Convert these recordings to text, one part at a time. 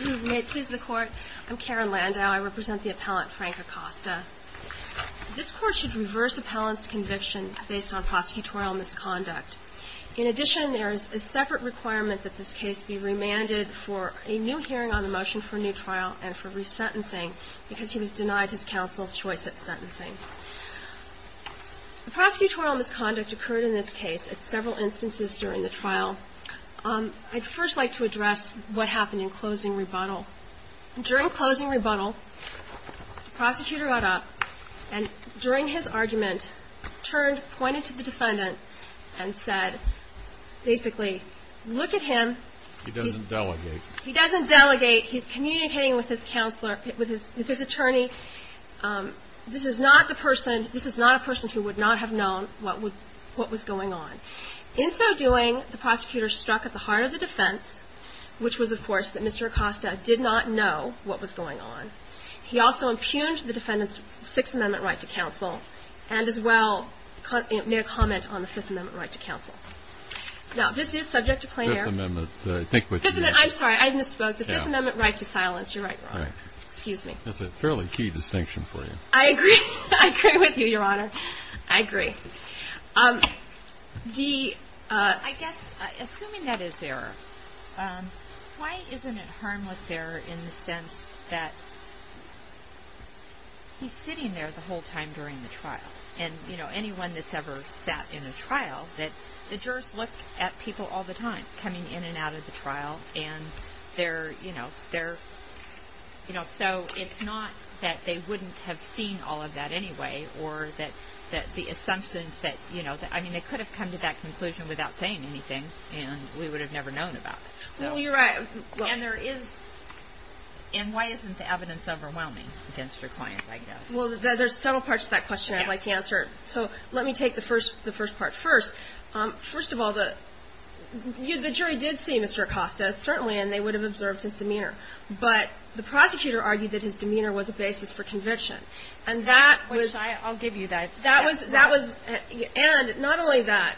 May it please the Court, I'm Karen Landau. I represent the appellant Frank Acosta. This Court should reverse appellant's conviction based on prosecutorial misconduct. In addition, there is a separate requirement that this case be remanded for a new hearing on the motion for a new trial and for resentencing because he was denied his counsel choice at sentencing. The prosecutorial misconduct occurred in this case at several instances during the trial. I'd first like to address what happened in closing rebuttal. During closing rebuttal, the prosecutor got up and during his argument, turned, pointed to the defendant and said, basically, look at him. He doesn't delegate. He doesn't delegate. He's communicating with his counselor, with his attorney. This is not the person, this is not a person who would not have known what was going on. In so doing, the prosecutor struck at the heart of the defense, which was, of course, that Mr. Acosta did not know what was going on. He also impugned the defendant's Sixth Amendment right to counsel and, as well, made a comment on the Fifth Amendment right to counsel. Now, this is subject to clear. Fifth Amendment. I'm sorry. I misspoke. The Fifth Amendment right to silence. You're right, Your Honor. Excuse me. That's a fairly key distinction for you. I agree. I agree with you, Your Honor. I agree. I guess, assuming that is error, why isn't it harmless error in the sense that he's sitting there the whole time during the trial? And, you know, anyone that's ever sat in a trial, the jurors look at people all the time coming in and out of the trial. And they're, you know, they're, you know, so it's not that they wouldn't have seen all of that anyway or that the assumptions that, you know, I mean, they could have come to that conclusion without saying anything, and we would have never known about it. Well, you're right. And there is. And why isn't the evidence overwhelming against your client, I guess? Well, there's several parts to that question I'd like to answer. So let me take the first part first. First of all, the jury did see Mr. Acosta, certainly, and they would have observed his demeanor. But the prosecutor argued that his demeanor was a basis for conviction. And that was — I'll give you that. That was — and not only that.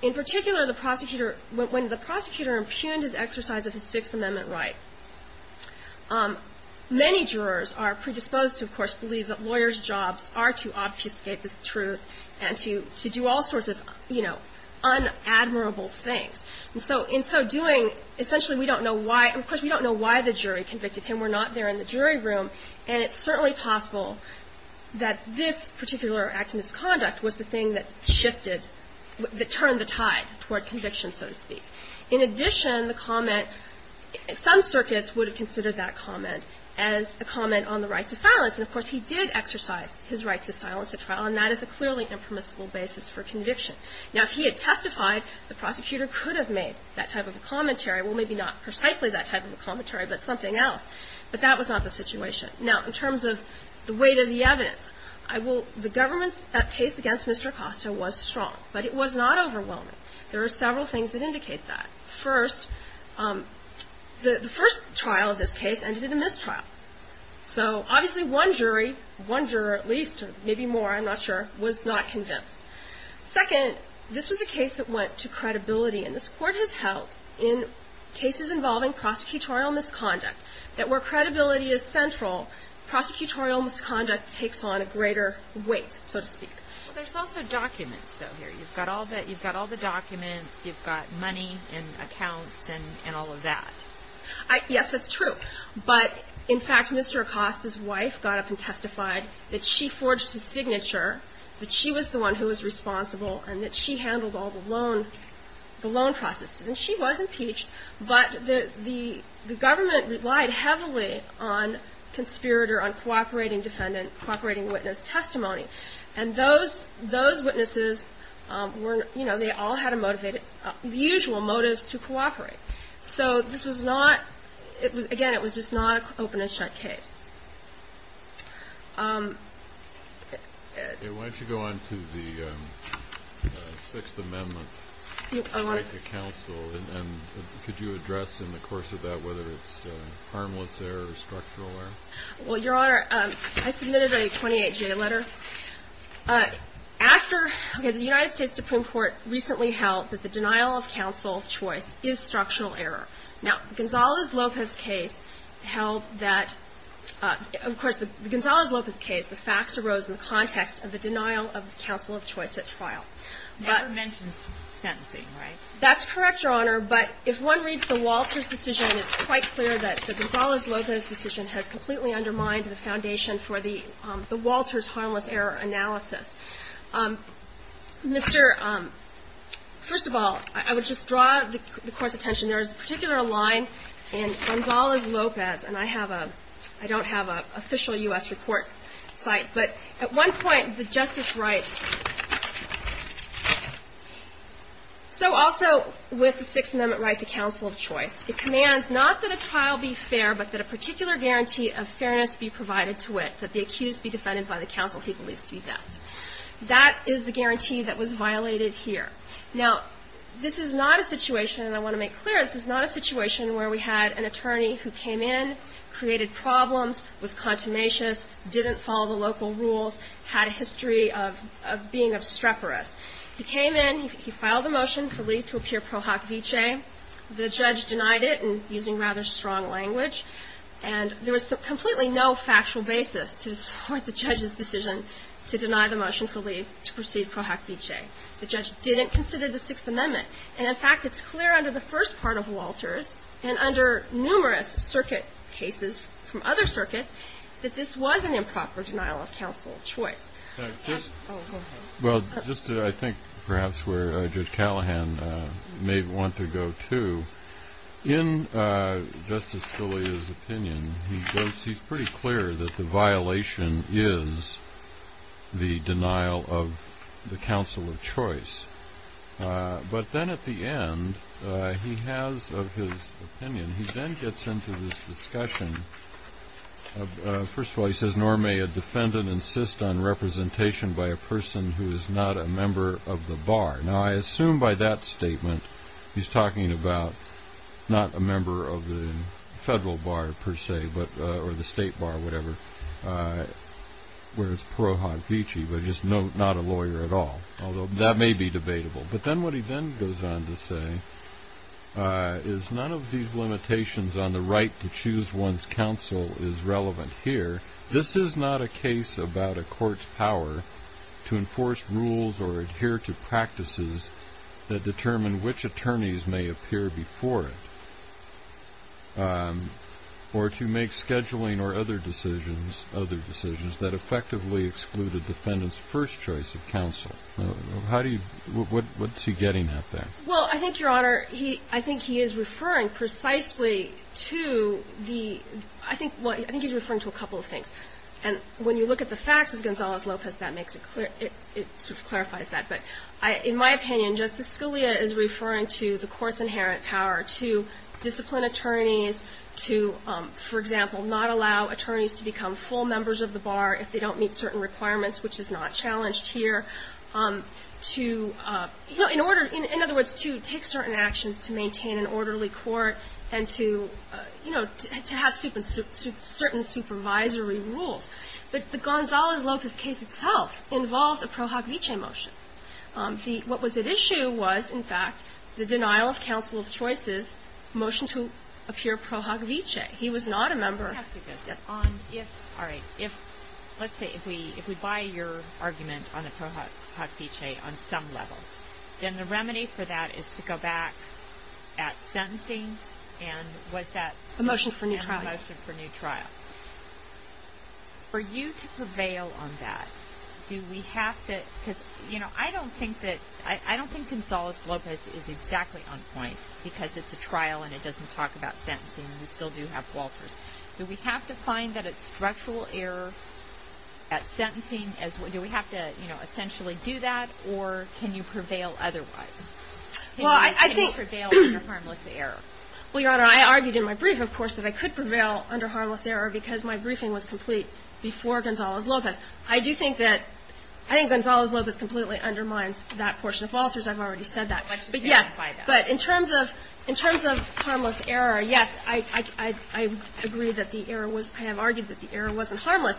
In particular, the prosecutor — when the prosecutor impugned his exercise of the Sixth Amendment right, many jurors are predisposed to, of course, believe that lawyers' jobs are to obfuscate this truth and to do all sorts of, you know, unadmirable things. And so in so doing, essentially, we don't know why — of course, we don't know why the jury convicted him. We're not there in the jury room. And it's certainly possible that this particular act of misconduct was the thing that shifted, that turned the tide toward conviction, so to speak. In addition, the comment — some circuits would have considered that comment as a comment on the right to silence. And that is a clearly impermissible basis for conviction. Now, if he had testified, the prosecutor could have made that type of a commentary. Well, maybe not precisely that type of a commentary, but something else. But that was not the situation. Now, in terms of the weight of the evidence, I will — the government's case against Mr. Acosta was strong. But it was not overwhelming. There are several things that indicate that. First, the first trial of this case ended in a mistrial. So, obviously, one jury — one juror at least, maybe more, I'm not sure — was not convinced. Second, this was a case that went to credibility. And this Court has held, in cases involving prosecutorial misconduct, that where credibility is central, prosecutorial misconduct takes on a greater weight, so to speak. There's also documents, though, here. You've got all the documents. You've got money and accounts and all of that. Yes, that's true. But, in fact, Mr. Acosta's wife got up and testified that she forged his signature, that she was the one who was responsible, and that she handled all the loan processes. And she was impeached. But the government relied heavily on conspirator, on cooperating defendant, cooperating witness testimony. And those witnesses were — you know, they all had a motivated — usual motives to cooperate. So this was not — again, it was just not an open-and-shut case. Why don't you go on to the Sixth Amendment right to counsel, and could you address in the course of that whether it's harmless error or structural error? Well, Your Honor, I submitted a 28-J letter. After — okay, the United States Supreme Court recently held that the denial of counsel of choice is structural error. Now, the Gonzales-Lopez case held that — of course, the Gonzales-Lopez case, the facts arose in the context of the denial of counsel of choice at trial. But — Never mentions sentencing, right? That's correct, Your Honor. But if one reads the Walters decision, it's quite clear that the Gonzales-Lopez decision has completely undermined the foundation for the Walters harmless error analysis. Mr. — first of all, I would just draw the Court's attention. There is a particular line in Gonzales-Lopez, and I have a — I don't have an official U.S. report site. But at one point, the justice writes, So also with the Sixth Amendment right to counsel of choice, it commands not that a trial be fair, but that a particular guarantee of fairness be provided to it, that the accused be defended by the counsel he believes to be best. That is the guarantee that was violated here. Now, this is not a situation, and I want to make clear, this is not a situation where we had an attorney who came in, created problems, was contumacious, didn't follow the local rules, had a history of being obstreperous. He came in. He filed a motion for Lee to appear pro hoc vicee. The judge denied it in using rather strong language. And there was completely no factual basis to support the judge's decision to deny the motion for Lee to proceed pro hoc vicee. The judge didn't consider the Sixth Amendment. And, in fact, it's clear under the first part of Walters and under numerous circuit cases from other circuits that this was an improper denial of counsel of choice. Well, just I think perhaps where Judge Callahan may want to go to, in Justice Scalia's opinion, he goes, he's pretty clear that the violation is the denial of the counsel of choice. But then at the end, he has, of his opinion, he then gets into this discussion. First of all, he says, nor may a defendant insist on representation by a person who is not a member of the bar. Now, I assume by that statement, he's talking about not a member of the federal bar, per se, or the state bar, whatever, where it's pro hoc vicee, but just not a lawyer at all, although that may be debatable. But then what he then goes on to say is none of these limitations on the right to choose one's counsel is relevant here. This is not a case about a court's power to enforce rules or adhere to practices that determine which attorneys may appear before it or to make scheduling or other decisions that effectively exclude a defendant's first choice of counsel. What's he getting at there? Well, I think, Your Honor, he – I think he is referring precisely to the – I think what – I think he's referring to a couple of things. And when you look at the facts of Gonzalez-Lopez, that makes it clear – it sort of clarifies that. But in my opinion, Justice Scalia is referring to the court's inherent power to discipline attorneys, to, for example, not allow attorneys to become full members of the bar if they don't meet certain requirements, which is not challenged here. To – you know, in order – in other words, to take certain actions to maintain an orderly court and to, you know, to have certain supervisory rules. But the Gonzalez-Lopez case itself involved a Pro Hoc Vice motion. The – what was at issue was, in fact, the denial of counsel of choices motion to appear Pro Hoc Vice. He was not a member – All right. If – let's say if we buy your argument on a Pro Hoc Vice on some level, then the remedy for that is to go back at sentencing and was that – The motion for new trial. The motion for new trial. For you to prevail on that, do we have to – because, you know, I don't think that – I don't think Gonzalez-Lopez is exactly on point because it's a trial and it doesn't talk about sentencing. We still do have Walters. Do we have to find that it's structural error at sentencing? Do we have to, you know, essentially do that? Or can you prevail otherwise? Well, I think – Can you prevail under harmless error? Well, Your Honor, I argued in my brief, of course, that I could prevail under harmless error because my briefing was complete before Gonzalez-Lopez. I do think that – I think Gonzalez-Lopez completely undermines that portion of Walters. I've already said that. But, yes. But in terms of – in terms of harmless error, yes. I agree that the error was – I have argued that the error wasn't harmless.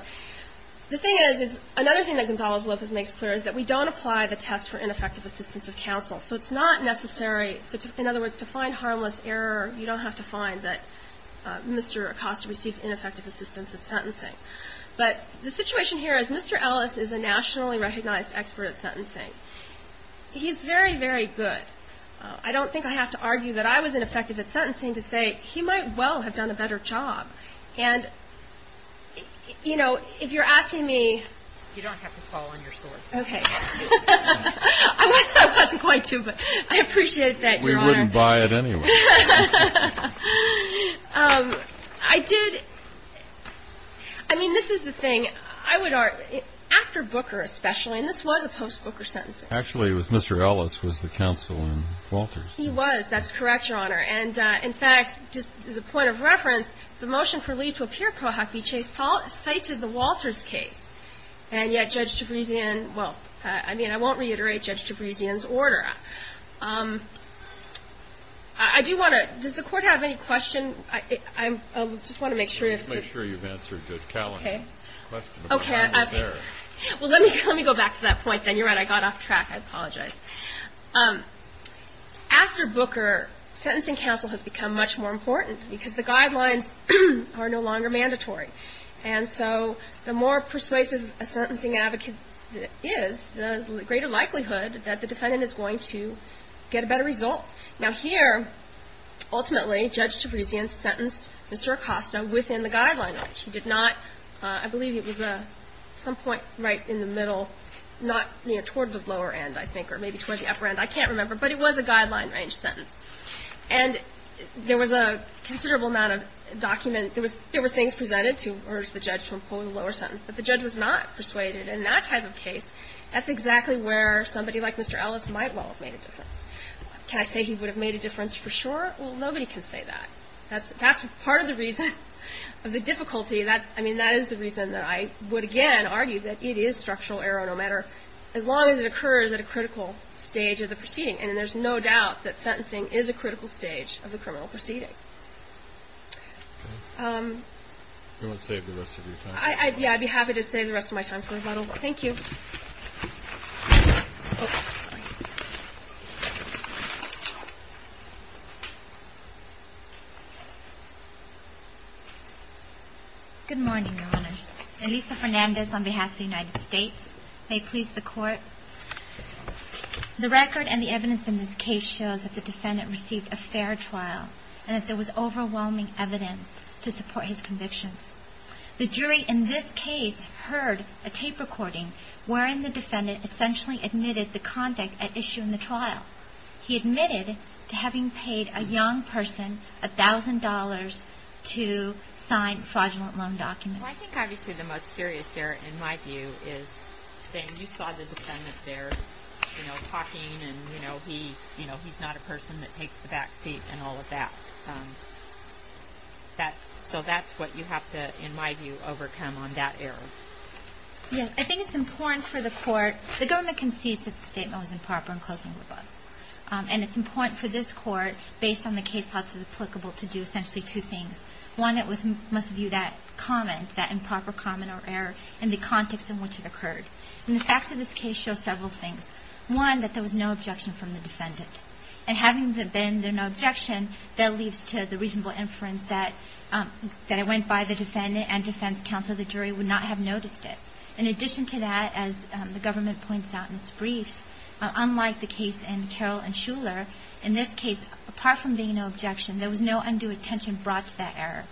The thing is, is another thing that Gonzalez-Lopez makes clear is that we don't apply the test for ineffective assistance of counsel. So it's not necessary – in other words, to find harmless error, you don't have to find that Mr. Acosta received ineffective assistance at sentencing. But the situation here is Mr. Ellis is a nationally recognized expert at sentencing. He's very, very good. I don't think I have to argue that I was ineffective at sentencing to say, he might well have done a better job. And, you know, if you're asking me – You don't have to fall on your sword. Okay. I wasn't going to, but I appreciate that, Your Honor. We wouldn't buy it anyway. I did – I mean, this is the thing. I would argue, after Booker especially – and this was a post-Booker sentencing. I would argue that Mr. Ellis was the counsel in Walters. He was. That's correct, Your Honor. And, in fact, just as a point of reference, the motion for Lee to appear pro hoc v. Chase cited the Walters case. And yet Judge Tabrisian – well, I mean, I won't reiterate Judge Tabrisian's order. I do want to – does the Court have any question? I just want to make sure if – Okay. Well, let me go back to that point then. You're right. I got off track. I apologize. After Booker, sentencing counsel has become much more important because the guidelines are no longer mandatory. And so the more persuasive a sentencing advocate is, the greater likelihood that the defendant is going to get a better result. Now, here, ultimately, Judge Tabrisian sentenced Mr. Acosta within the guidelines. He did not – I believe it was at some point right in the middle, not near – toward the lower end, I think, or maybe toward the upper end. I can't remember. But it was a guideline-range sentence. And there was a considerable amount of document – there were things presented to urge the judge to impose a lower sentence. But the judge was not persuaded. And in that type of case, that's exactly where somebody like Mr. Ellis might well have made a difference. Can I say he would have made a difference for sure? Well, nobody can say that. That's part of the reason of the difficulty. I mean, that is the reason that I would, again, argue that it is structural error no matter – as long as it occurs at a critical stage of the proceeding. And there's no doubt that sentencing is a critical stage of the criminal proceeding. We won't save the rest of your time. Yeah, I'd be happy to save the rest of my time for a bottle. Thank you. Oh, sorry. Good morning, Your Honors. Elisa Fernandez on behalf of the United States. May it please the Court. The record and the evidence in this case shows that the defendant received a fair trial and that there was overwhelming evidence to support his convictions. The jury in this case heard a tape recording wherein the defendant essentially admitted the conduct at issue in the trial. He admitted to having paid a young person $1,000 to sign fraudulent loan documents. Well, I think obviously the most serious error, in my view, is saying you saw the defendant there, you know, talking and, you know, he's not a person that takes the back seat and all of that. So that's what you have to, in my view, overcome on that error. Yeah. I think it's important for the Court. The government concedes that the statement was improper in closing the book. And it's important for this Court, based on the case law that's applicable, to do essentially two things. One, it was, most of you, that comment, that improper comment or error in the context in which it occurred. And the facts of this case show several things. One, that there was no objection from the defendant. And having there been no objection, that leads to the reasonable inference that it went by the defendant and defense counsel. The jury would not have noticed it. In addition to that, as the government points out in its briefs, unlike the case in Carroll and Shuler, in this case, apart from being no objection, there was no undue attention brought to that error.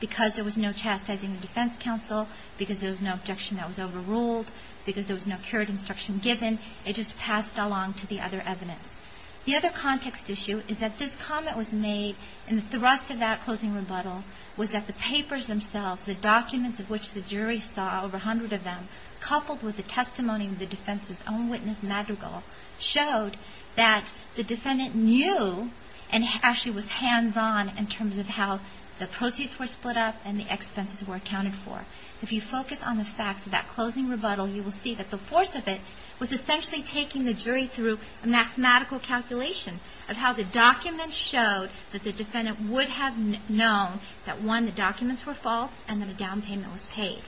Because there was no chastising the defense counsel, because there was no objection that was overruled, because there was no curate instruction given, it just passed along to the other evidence. The other context issue is that this comment was made in the thrust of that closing rebuttal, was that the papers themselves, the documents of which the jury saw, over a hundred of them, coupled with the testimony of the defense's own witness, Madrigal, showed that the defendant knew and actually was hands-on in terms of how the proceeds were split up and the expenses were accounted for. If you focus on the facts of that closing rebuttal, you will see that the force of it was essentially taking the jury through a mathematical calculation of how the documents showed that the defendant would have known that, one, the documents were false and that a down payment was paid.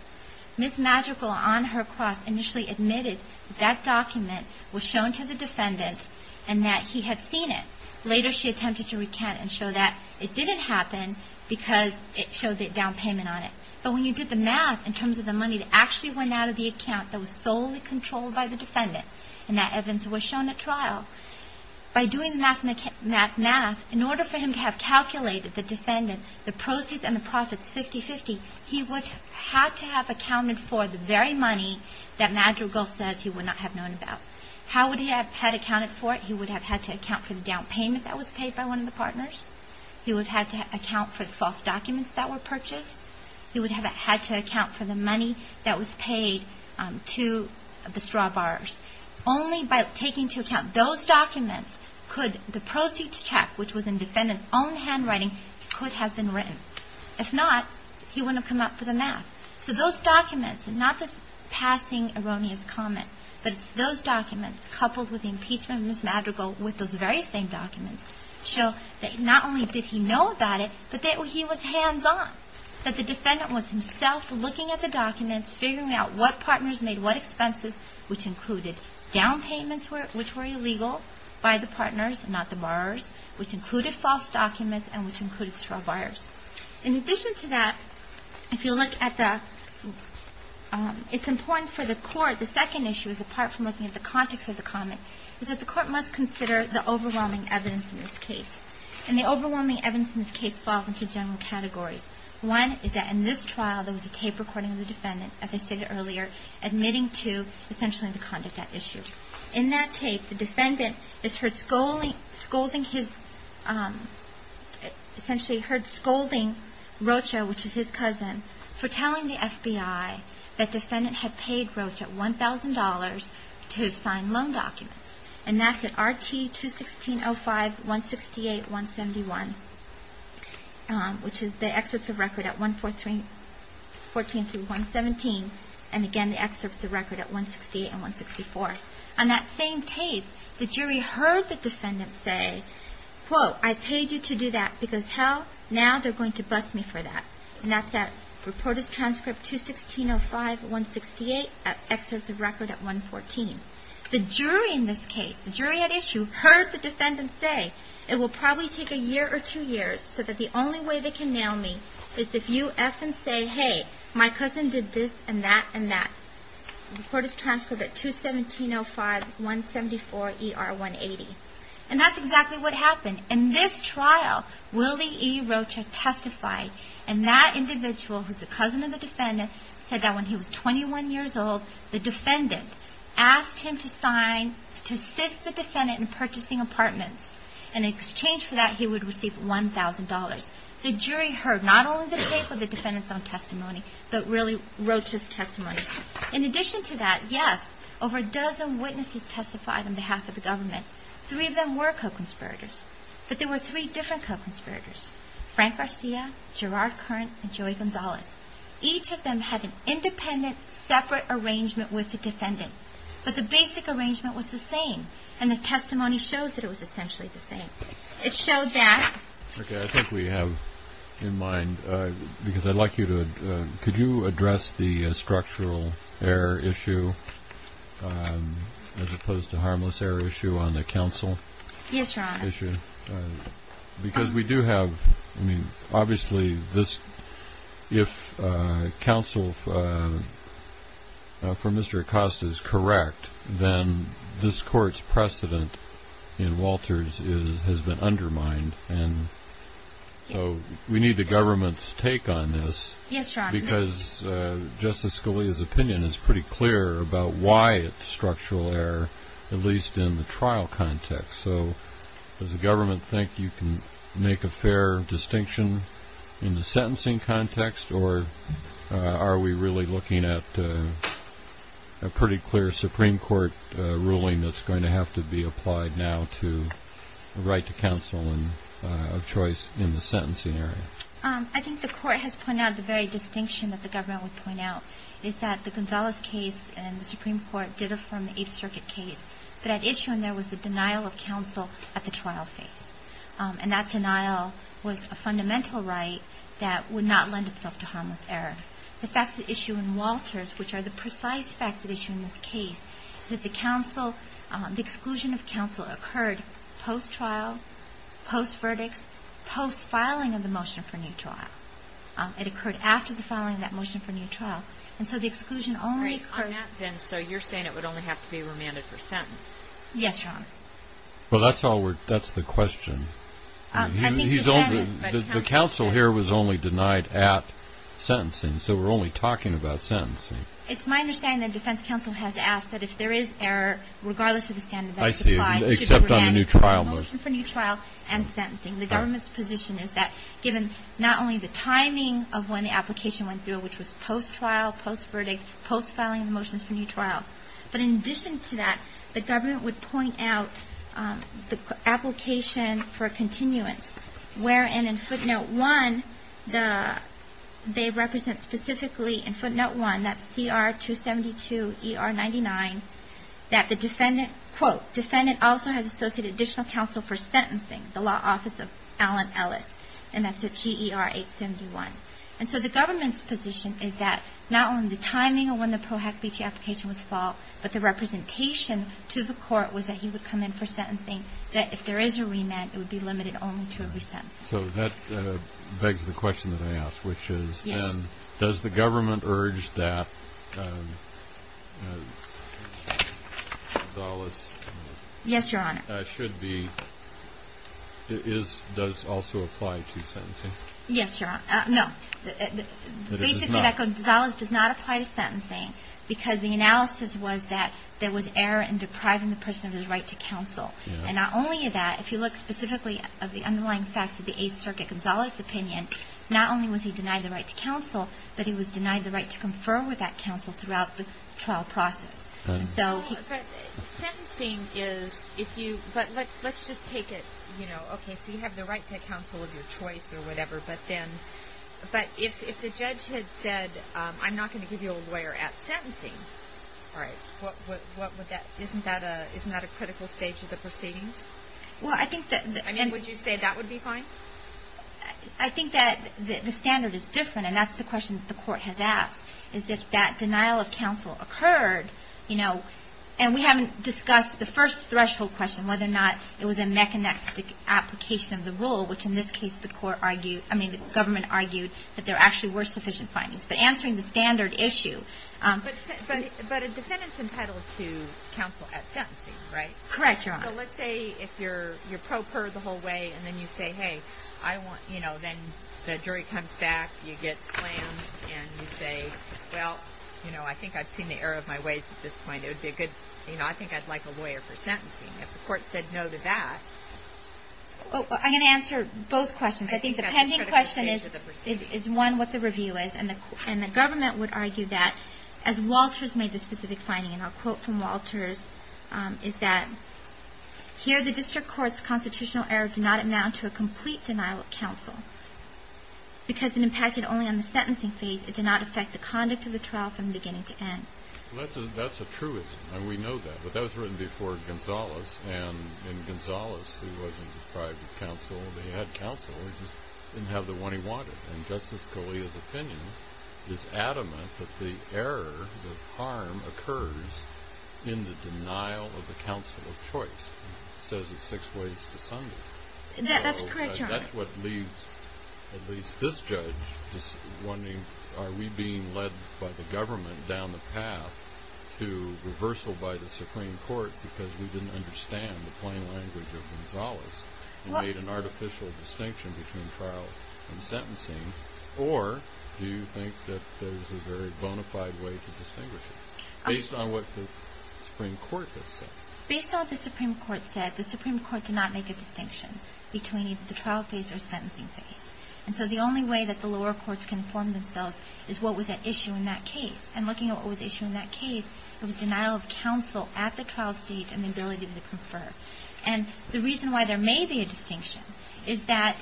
Ms. Madrigal, on her cross, initially admitted that that document was shown to the defendant and that he had seen it. Later, she attempted to recant and show that it didn't happen because it showed the down payment on it. But when you did the math in terms of the money that actually went out of the account that was solely controlled by the defendant and that evidence was shown at trial, by doing the math, in order for him to have calculated the defendant, the proceeds and the profits 50-50, he would have to have accounted for the very money that Madrigal says he would not have known about. How would he have had accounted for it? He would have had to account for the down payment that was paid by one of the partners. He would have had to account for the false documents that were purchased. He would have had to account for the money that was paid to the straw borrowers. Only by taking into account those documents could the proceeds check, which was in the defendant's own handwriting, could have been written. If not, he wouldn't have come up with the math. So those documents, and not this passing erroneous comment, but it's those documents coupled with the impeachment of Ms. Madrigal with those very same documents show that not only did he know about it, but that he was hands-on. That the defendant was himself looking at the documents, figuring out what partners made what expenses, which included down payments which were illegal by the partners, not the borrowers, which included false documents and which included straw buyers. In addition to that, if you look at the – it's important for the court, the second issue, apart from looking at the context of the comment, is that the court must consider the overwhelming evidence in this case. And the overwhelming evidence in this case falls into general categories. One is that in this trial, there was a tape recording of the defendant, as I stated earlier, admitting to essentially the conduct at issue. In that tape, the defendant is heard scolding his – essentially heard scolding Rocha, which is his cousin, for telling the FBI that defendant had paid Rocha $1,000 to have signed loan documents. And that's at RT-216-05-168-171, which is the excerpts of record at 114 through 117. And again, the excerpts of record at 168 and 164. On that same tape, the jury heard the defendant say, quote, I paid you to do that because hell, now they're going to bust me for that. And that's at Reporters' Transcript 216-05-168, excerpts of record at 114. The jury in this case, the jury at issue, heard the defendant say, it will probably take a year or two years so that the only way they can nail me is if you F and say, hey, my cousin did this and that and that. Reporters' Transcript at 217-05-174-ER-180. And that's exactly what happened. In this trial, Willie E. Rocha testified, and that individual, who's the cousin of the defendant, said that when he was 21 years old, the defendant asked him to sign to assist the defendant in purchasing apartments. And in exchange for that, he would receive $1,000. The jury heard not only the tape of the defendant's own testimony, but really Rocha's testimony. In addition to that, yes, over a dozen witnesses testified on behalf of the government. Three of them were co-conspirators, but there were three different co-conspirators, Frank Garcia, Gerard Curran, and Joey Gonzalez. Each of them had an independent, separate arrangement with the defendant. But the basic arrangement was the same, and the testimony shows that it was essentially the same. It showed that. Okay. I think we have in mind, because I'd like you to, could you address the structural error issue as opposed to harmless error issue on the counsel? Yes, Your Honor. Because we do have, I mean, obviously this, if counsel for Mr. Acosta is correct, then this court's precedent in Walters has been undermined. And so we need the government's take on this. Yes, Your Honor. Because Justice Scalia's opinion is pretty clear about why it's structural error, at least in the trial context. So does the government think you can make a fair distinction in the sentencing context, or are we really looking at a pretty clear Supreme Court ruling that's going to have to be applied now to the right to counsel of choice in the sentencing area? I think the court has pointed out the very distinction that the government would point out, is that the Gonzalez case and the Supreme Court did affirm the Eighth Circuit case. But at issue in there was the denial of counsel at the trial phase. And that denial was a fundamental right that would not lend itself to harmless error. The facts at issue in Walters, which are the precise facts at issue in this case, is that the counsel, the exclusion of counsel occurred post-trial, post-verdicts, post-filing of the motion for new trial. It occurred after the filing of that motion for new trial. And so the exclusion only occurred. And so you're saying it would only have to be remanded for sentence? Yes, Your Honor. Well, that's the question. The counsel here was only denied at sentencing. So we're only talking about sentencing. It's my understanding that defense counsel has asked that if there is error, regardless of the standard that's applied, it should be remanded for the motion for new trial and sentencing. The government's position is that given not only the timing of when the application went through, which was post-trial, post-verdict, post-filing of the motions for new trial, but in addition to that, the government would point out the application for continuance, wherein in footnote 1, they represent specifically in footnote 1, that's CR 272 ER 99, that the defendant, quote, defendant also has associated additional counsel for sentencing, the law office of Allen Ellis. And that's at GER 871. And so the government's position is that not only the timing of when the PROACT-BT application was filed, but the representation to the court was that he would come in for sentencing, that if there is a remand, it would be limited only to a resentence. So that begs the question that I asked, which is, does the government urge that Dallas should be, does also apply to sentencing? Yes, Your Honor. No. Basically, that goes, Dallas does not apply to sentencing, because the analysis was that there was error in depriving the person of his right to counsel. And not only that, if you look specifically at the underlying facts of the Eighth Circuit, Gonzalez's opinion, not only was he denied the right to counsel, but he was denied the right to confer with that counsel throughout the trial process. But sentencing is, if you, but let's just take it, you know, okay, so you have the right to counsel of your choice or whatever, but then, but if the judge had said, I'm not going to give you a lawyer at sentencing, all right, what would that, isn't that a critical stage of the proceeding? Well, I think that. I mean, would you say that would be fine? I think that the standard is different, and that's the question that the court has asked, is if that denial of counsel occurred, you know, and we haven't discussed the first threshold question, whether or not it was a mechanistic application of the rule, which in this case the court argued, I mean, the government argued that there actually were sufficient findings. But answering the standard issue. But a defendant's entitled to counsel at sentencing, right? Correct, Your Honor. So let's say if you're pro per the whole way, and then you say, hey, I want, you know, then the jury comes back, you get slammed, and you say, well, you know, I think I've seen the error of my ways at this point. It would be a good, you know, I think I'd like a lawyer for sentencing. If the court said no to that. I'm going to answer both questions. I think the pending question is, is one, what the review is, and the government would argue that as Walters made the specific finding, and I'll quote from Walters, is that, here the district court's constitutional error did not amount to a complete denial of counsel. Because it impacted only on the sentencing phase, it did not affect the conduct of the trial from beginning to end. Well, that's a truism, and we know that. But that was written before Gonzales, and in Gonzales he wasn't deprived of counsel. He had counsel, he just didn't have the one he wanted. And Justice Scalia's opinion is adamant that the error, the harm, occurs in the denial of the counsel of choice. It says it six ways to Sunday. That's correct, Your Honor. That's what leaves at least this judge wondering, are we being led by the government down the path to reversal by the Supreme Court because we didn't understand the plain language of Gonzales, and made an artificial distinction between trial and sentencing, or do you think that there's a very bona fide way to distinguish it, based on what the Supreme Court has said? Based on what the Supreme Court said, the Supreme Court did not make a distinction between either the trial phase or sentencing phase. And so the only way that the lower courts can inform themselves is what was at issue in that case. And looking at what was at issue in that case, it was denial of counsel at the trial stage and the ability to confer. And the reason why there may be a distinction is that,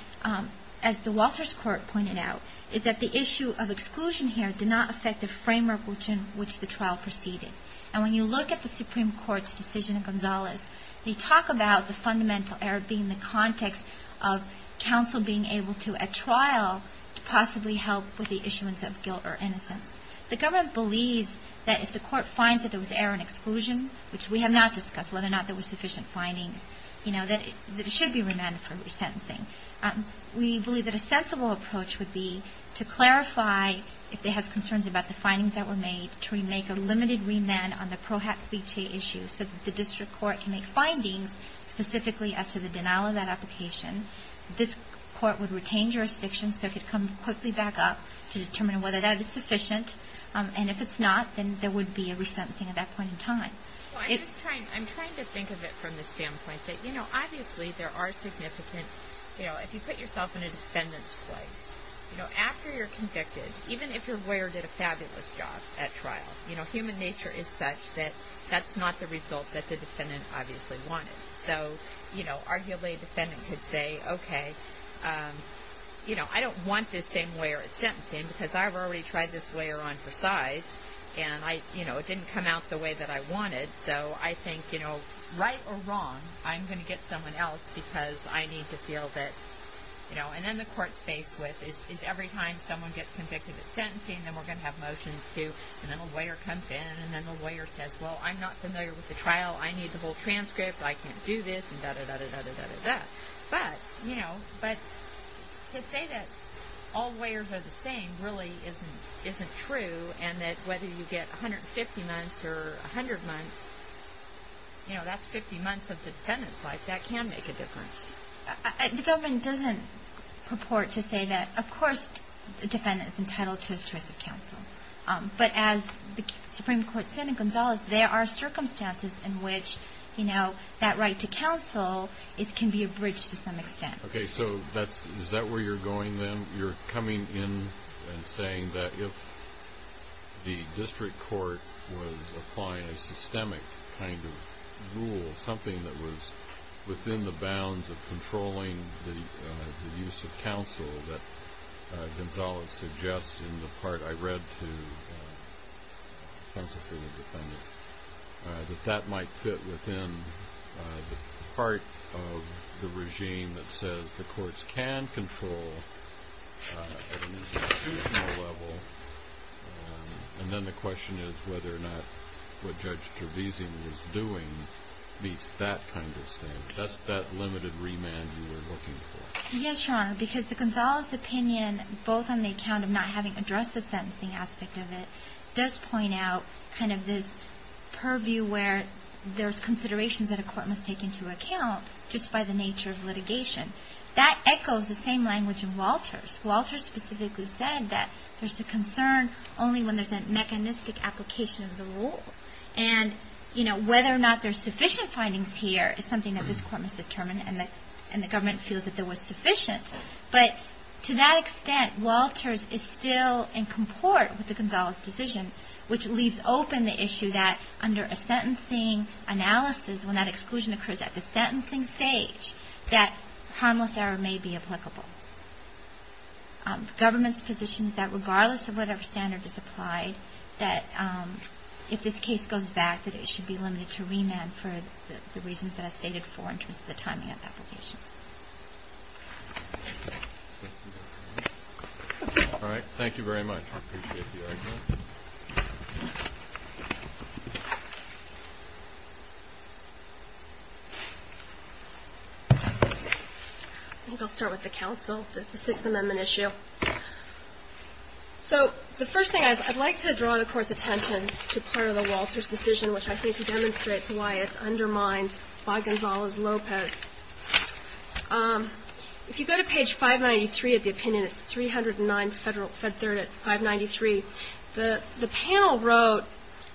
as the Walters Court pointed out, is that the issue of exclusion here did not affect the framework in which the trial proceeded. And when you look at the Supreme Court's decision in Gonzales, they talk about the fundamental error being the context of counsel being able to, at trial, to possibly help with the issuance of guilt or innocence. The government believes that if the court finds that there was error in exclusion, which we have not discussed whether or not there were sufficient findings, you know, that it should be remanded for resentencing. We believe that a sensible approach would be to clarify, if it has concerns about the findings that were made, to make a limited remand on the Pro Hac Licea issue so that the district court can make findings specifically as to the denial of that application. This court would retain jurisdiction so it could come quickly back up to determine whether that is sufficient. And if it's not, then there would be a resentencing at that point in time. Well, I'm just trying to think of it from the standpoint that, you know, obviously there are significant, you know, if you put yourself in a defendant's place, you know, after you're convicted, even if your lawyer did a fabulous job at trial, you know, human nature is such that that's not the result that the defendant obviously wanted. So, you know, arguably a defendant could say, okay, you know, I don't want this same lawyer at sentencing because I've already tried this lawyer on for size and I, you know, it didn't come out the way that I wanted. So I think, you know, right or wrong, I'm going to get someone else because I need to feel that, you know, and then the court's faced with is every time someone gets convicted at sentencing, then we're going to have motions too. And then a lawyer comes in and then the lawyer says, well, I'm not familiar with the trial. I need the whole transcript. I can't do this and da-da-da-da-da-da-da-da. But, you know, but to say that all lawyers are the same really isn't true and that whether you get 150 months or 100 months, you know, that's 50 months of the defendant's life, that can make a difference. The government doesn't purport to say that, of course, the defendant is entitled to his choice of counsel. But as the Supreme Court said in Gonzalez, there are circumstances in which, you know, that right to counsel can be abridged to some extent. Okay. So is that where you're going then? You're coming in and saying that if the district court was applying a systemic kind of rule, something that was within the bounds of controlling the use of counsel that Gonzalez suggests in the part I read to counsel for the defendant, that that might fit within the part of the regime that says the courts can control at an institutional level. And then the question is whether or not what Judge Trevisan was doing meets that kind of standard. That's that limited remand you were looking for. Yes, Your Honor, because the Gonzalez opinion, both on the account of not having addressed the sentencing aspect of it, does point out kind of this purview where there's considerations that a court must take into account just by the nature of litigation. That echoes the same language in Walters. Walters specifically said that there's a concern only when there's a mechanistic application of the rule. And, you know, whether or not there's sufficient findings here is something that this court must determine and the government feels that there was sufficient. But to that extent, Walters is still in comport with the Gonzalez decision, which leaves open the issue that under a sentencing analysis, when that exclusion occurs at the sentencing stage, that harmless error may be applicable. The government's position is that regardless of whatever standard is applied, that if this case goes back, that it should be limited to remand for the reasons that I stated before in terms of the timing of application. All right. Thank you very much. I appreciate the argument. I think I'll start with the counsel, the Sixth Amendment issue. So the first thing is, I'd like to draw the Court's attention to part of the Walters decision, which I think demonstrates why it's undermined by Gonzalez-Lopez. If you go to page 593 of the opinion, it's 309 Fed Third at 593. The panel wrote,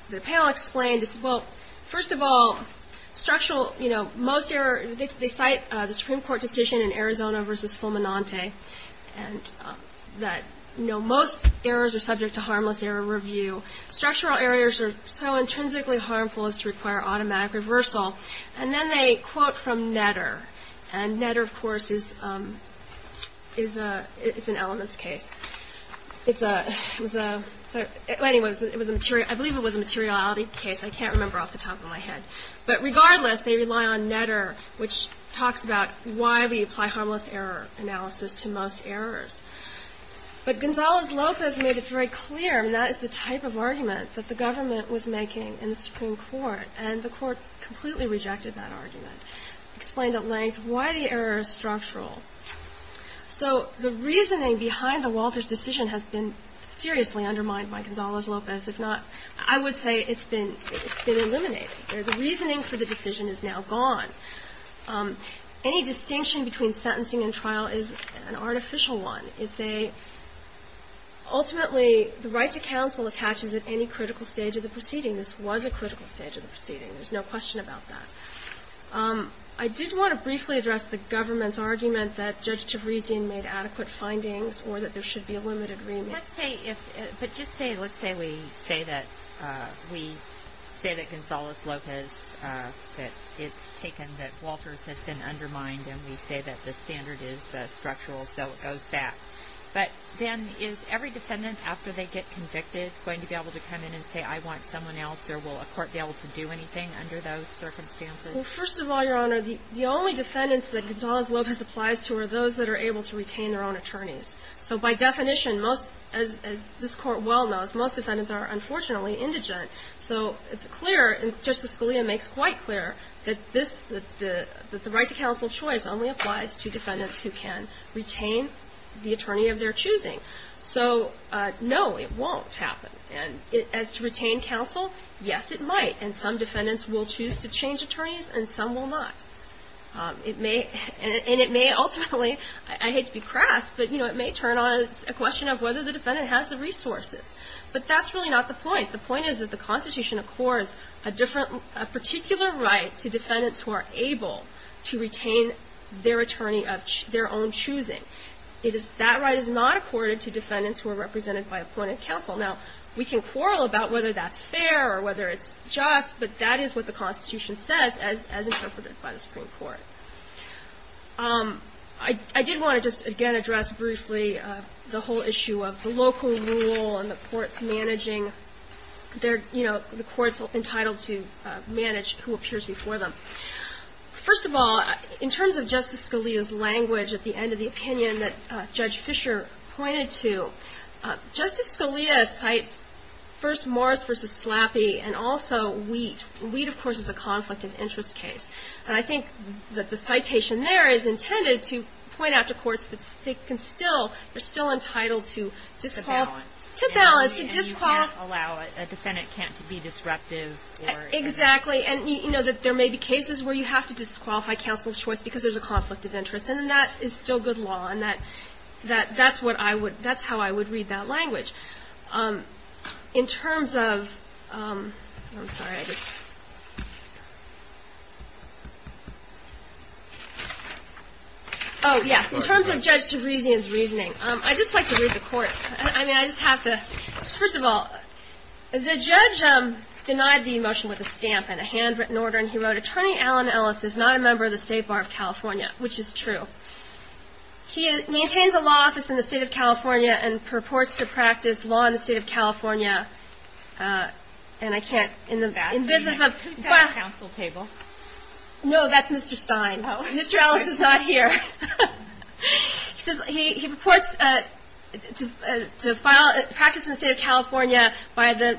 the panel explained, well, first of all, structural, you know, they cite the Supreme Court decision in Arizona versus Fulminante, and that, you know, most errors are subject to harmless error review. Structural errors are so intrinsically harmful as to require automatic reversal. And then they quote from Netter. And Netter, of course, is a, it's an elements case. It's a, anyway, I believe it was a materiality case. I can't remember off the top of my head. But regardless, they rely on Netter, which talks about why we apply harmless error analysis to most errors. But Gonzalez-Lopez made it very clear, and that is the type of argument that the government was making in the Supreme Court. And the Court completely rejected that argument, explained at length why the error is structural. So the reasoning behind the Walters decision has been seriously undermined by Gonzalez-Lopez. If not, I would say it's been, it's been eliminated. The reasoning for the decision is now gone. Any distinction between sentencing and trial is an artificial one. It's a, ultimately, the right to counsel attaches at any critical stage of the proceeding. This was a critical stage of the proceeding. There's no question about that. I did want to briefly address the government's argument that Judge Tavresian made adequate findings or that there should be a limited remit. But just say, let's say we say that we say that Gonzalez-Lopez, that it's taken that Walters has been undermined, and we say that the standard is structural, so it goes back. But then is every defendant, after they get convicted, going to be able to come in and say, I want someone else? Or will a court be able to do anything under those circumstances? Well, first of all, Your Honor, the only defendants that Gonzalez-Lopez applies to are those that are able to retain their own attorneys. So by definition, as this Court well knows, most defendants are, unfortunately, indigent. So it's clear, and Justice Scalia makes quite clear, that the right to counsel choice only applies to defendants who can retain the attorney of their choosing. So, no, it won't happen. And as to retain counsel, yes, it might. And some defendants will choose to change attorneys, and some will not. It may, and it may ultimately, I hate to be crass, but, you know, it may turn on a question of whether the defendant has the resources. But that's really not the point. The point is that the Constitution accords a different, a particular right to defendants who are able to retain their attorney of their own choosing. That right is not accorded to defendants who are represented by appointed counsel. Now, we can quarrel about whether that's fair or whether it's just, but that is what the Constitution says, as interpreted by the Supreme Court. I did want to just, again, address briefly the whole issue of the local rule and the courts managing their, you know, the courts entitled to manage who appears before them. First of all, in terms of Justice Scalia's language at the end of the opinion that Judge Fisher pointed to, Justice Scalia cites first Morris v. Slappy and also Wheat. Wheat, of course, is a conflict of interest case. And I think that the citation there is intended to point out to courts that they can still, they're still entitled to disqualify. To balance. To balance, to disqualify. And you can't allow a defendant to be disruptive or. Exactly. And, you know, that there may be cases where you have to disqualify counsel of choice because there's a conflict of interest. And that is still good law. And that's what I would, that's how I would read that language. In terms of, I'm sorry, I just. Oh, yes. In terms of Judge Tabrisian's reasoning, I'd just like to read the court. I mean, I just have to. First of all, the judge denied the motion with a stamp and a handwritten order. And he wrote, He maintains a law office in the State of California and purports to practice law in the State of California. And I can't. Who's that on the counsel table? No, that's Mr. Stein. Mr. Ellis is not here. He purports to practice in the State of California that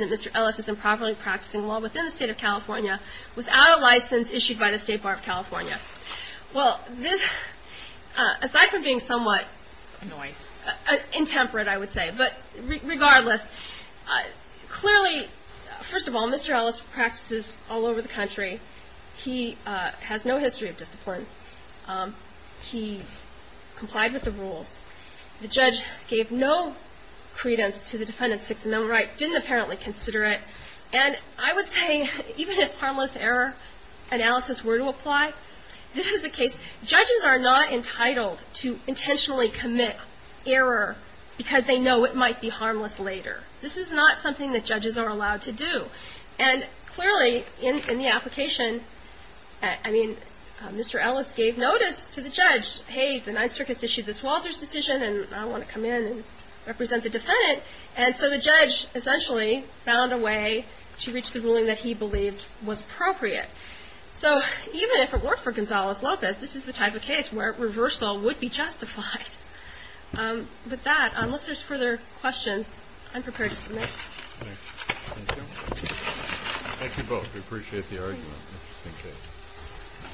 Mr. Ellis is improperly practicing law within the State of California without a license issued by the State Bar of California. Well, this, aside from being somewhat. Annoying. Intemperate, I would say. But regardless, clearly, first of all, Mr. Ellis practices all over the country. He complied with the rules. The judge gave no credence to the defendant's Sixth Amendment right, didn't apparently consider it. And I would say, even if harmless error analysis were to apply, this is the case. Judges are not entitled to intentionally commit error because they know it might be harmless later. This is not something that judges are allowed to do. And clearly, in the application, I mean, Mr. Ellis gave notice to the judge, hey, the Ninth Circuit's issued this Walter's decision, and I want to come in and represent the defendant. And so the judge essentially found a way to reach the ruling that he believed was appropriate. So even if it worked for Gonzales-Lopez, this is the type of case where reversal would be justified. With that, unless there's further questions, I'm prepared to submit. Thank you. Thank you both. We appreciate the argument. Interesting case.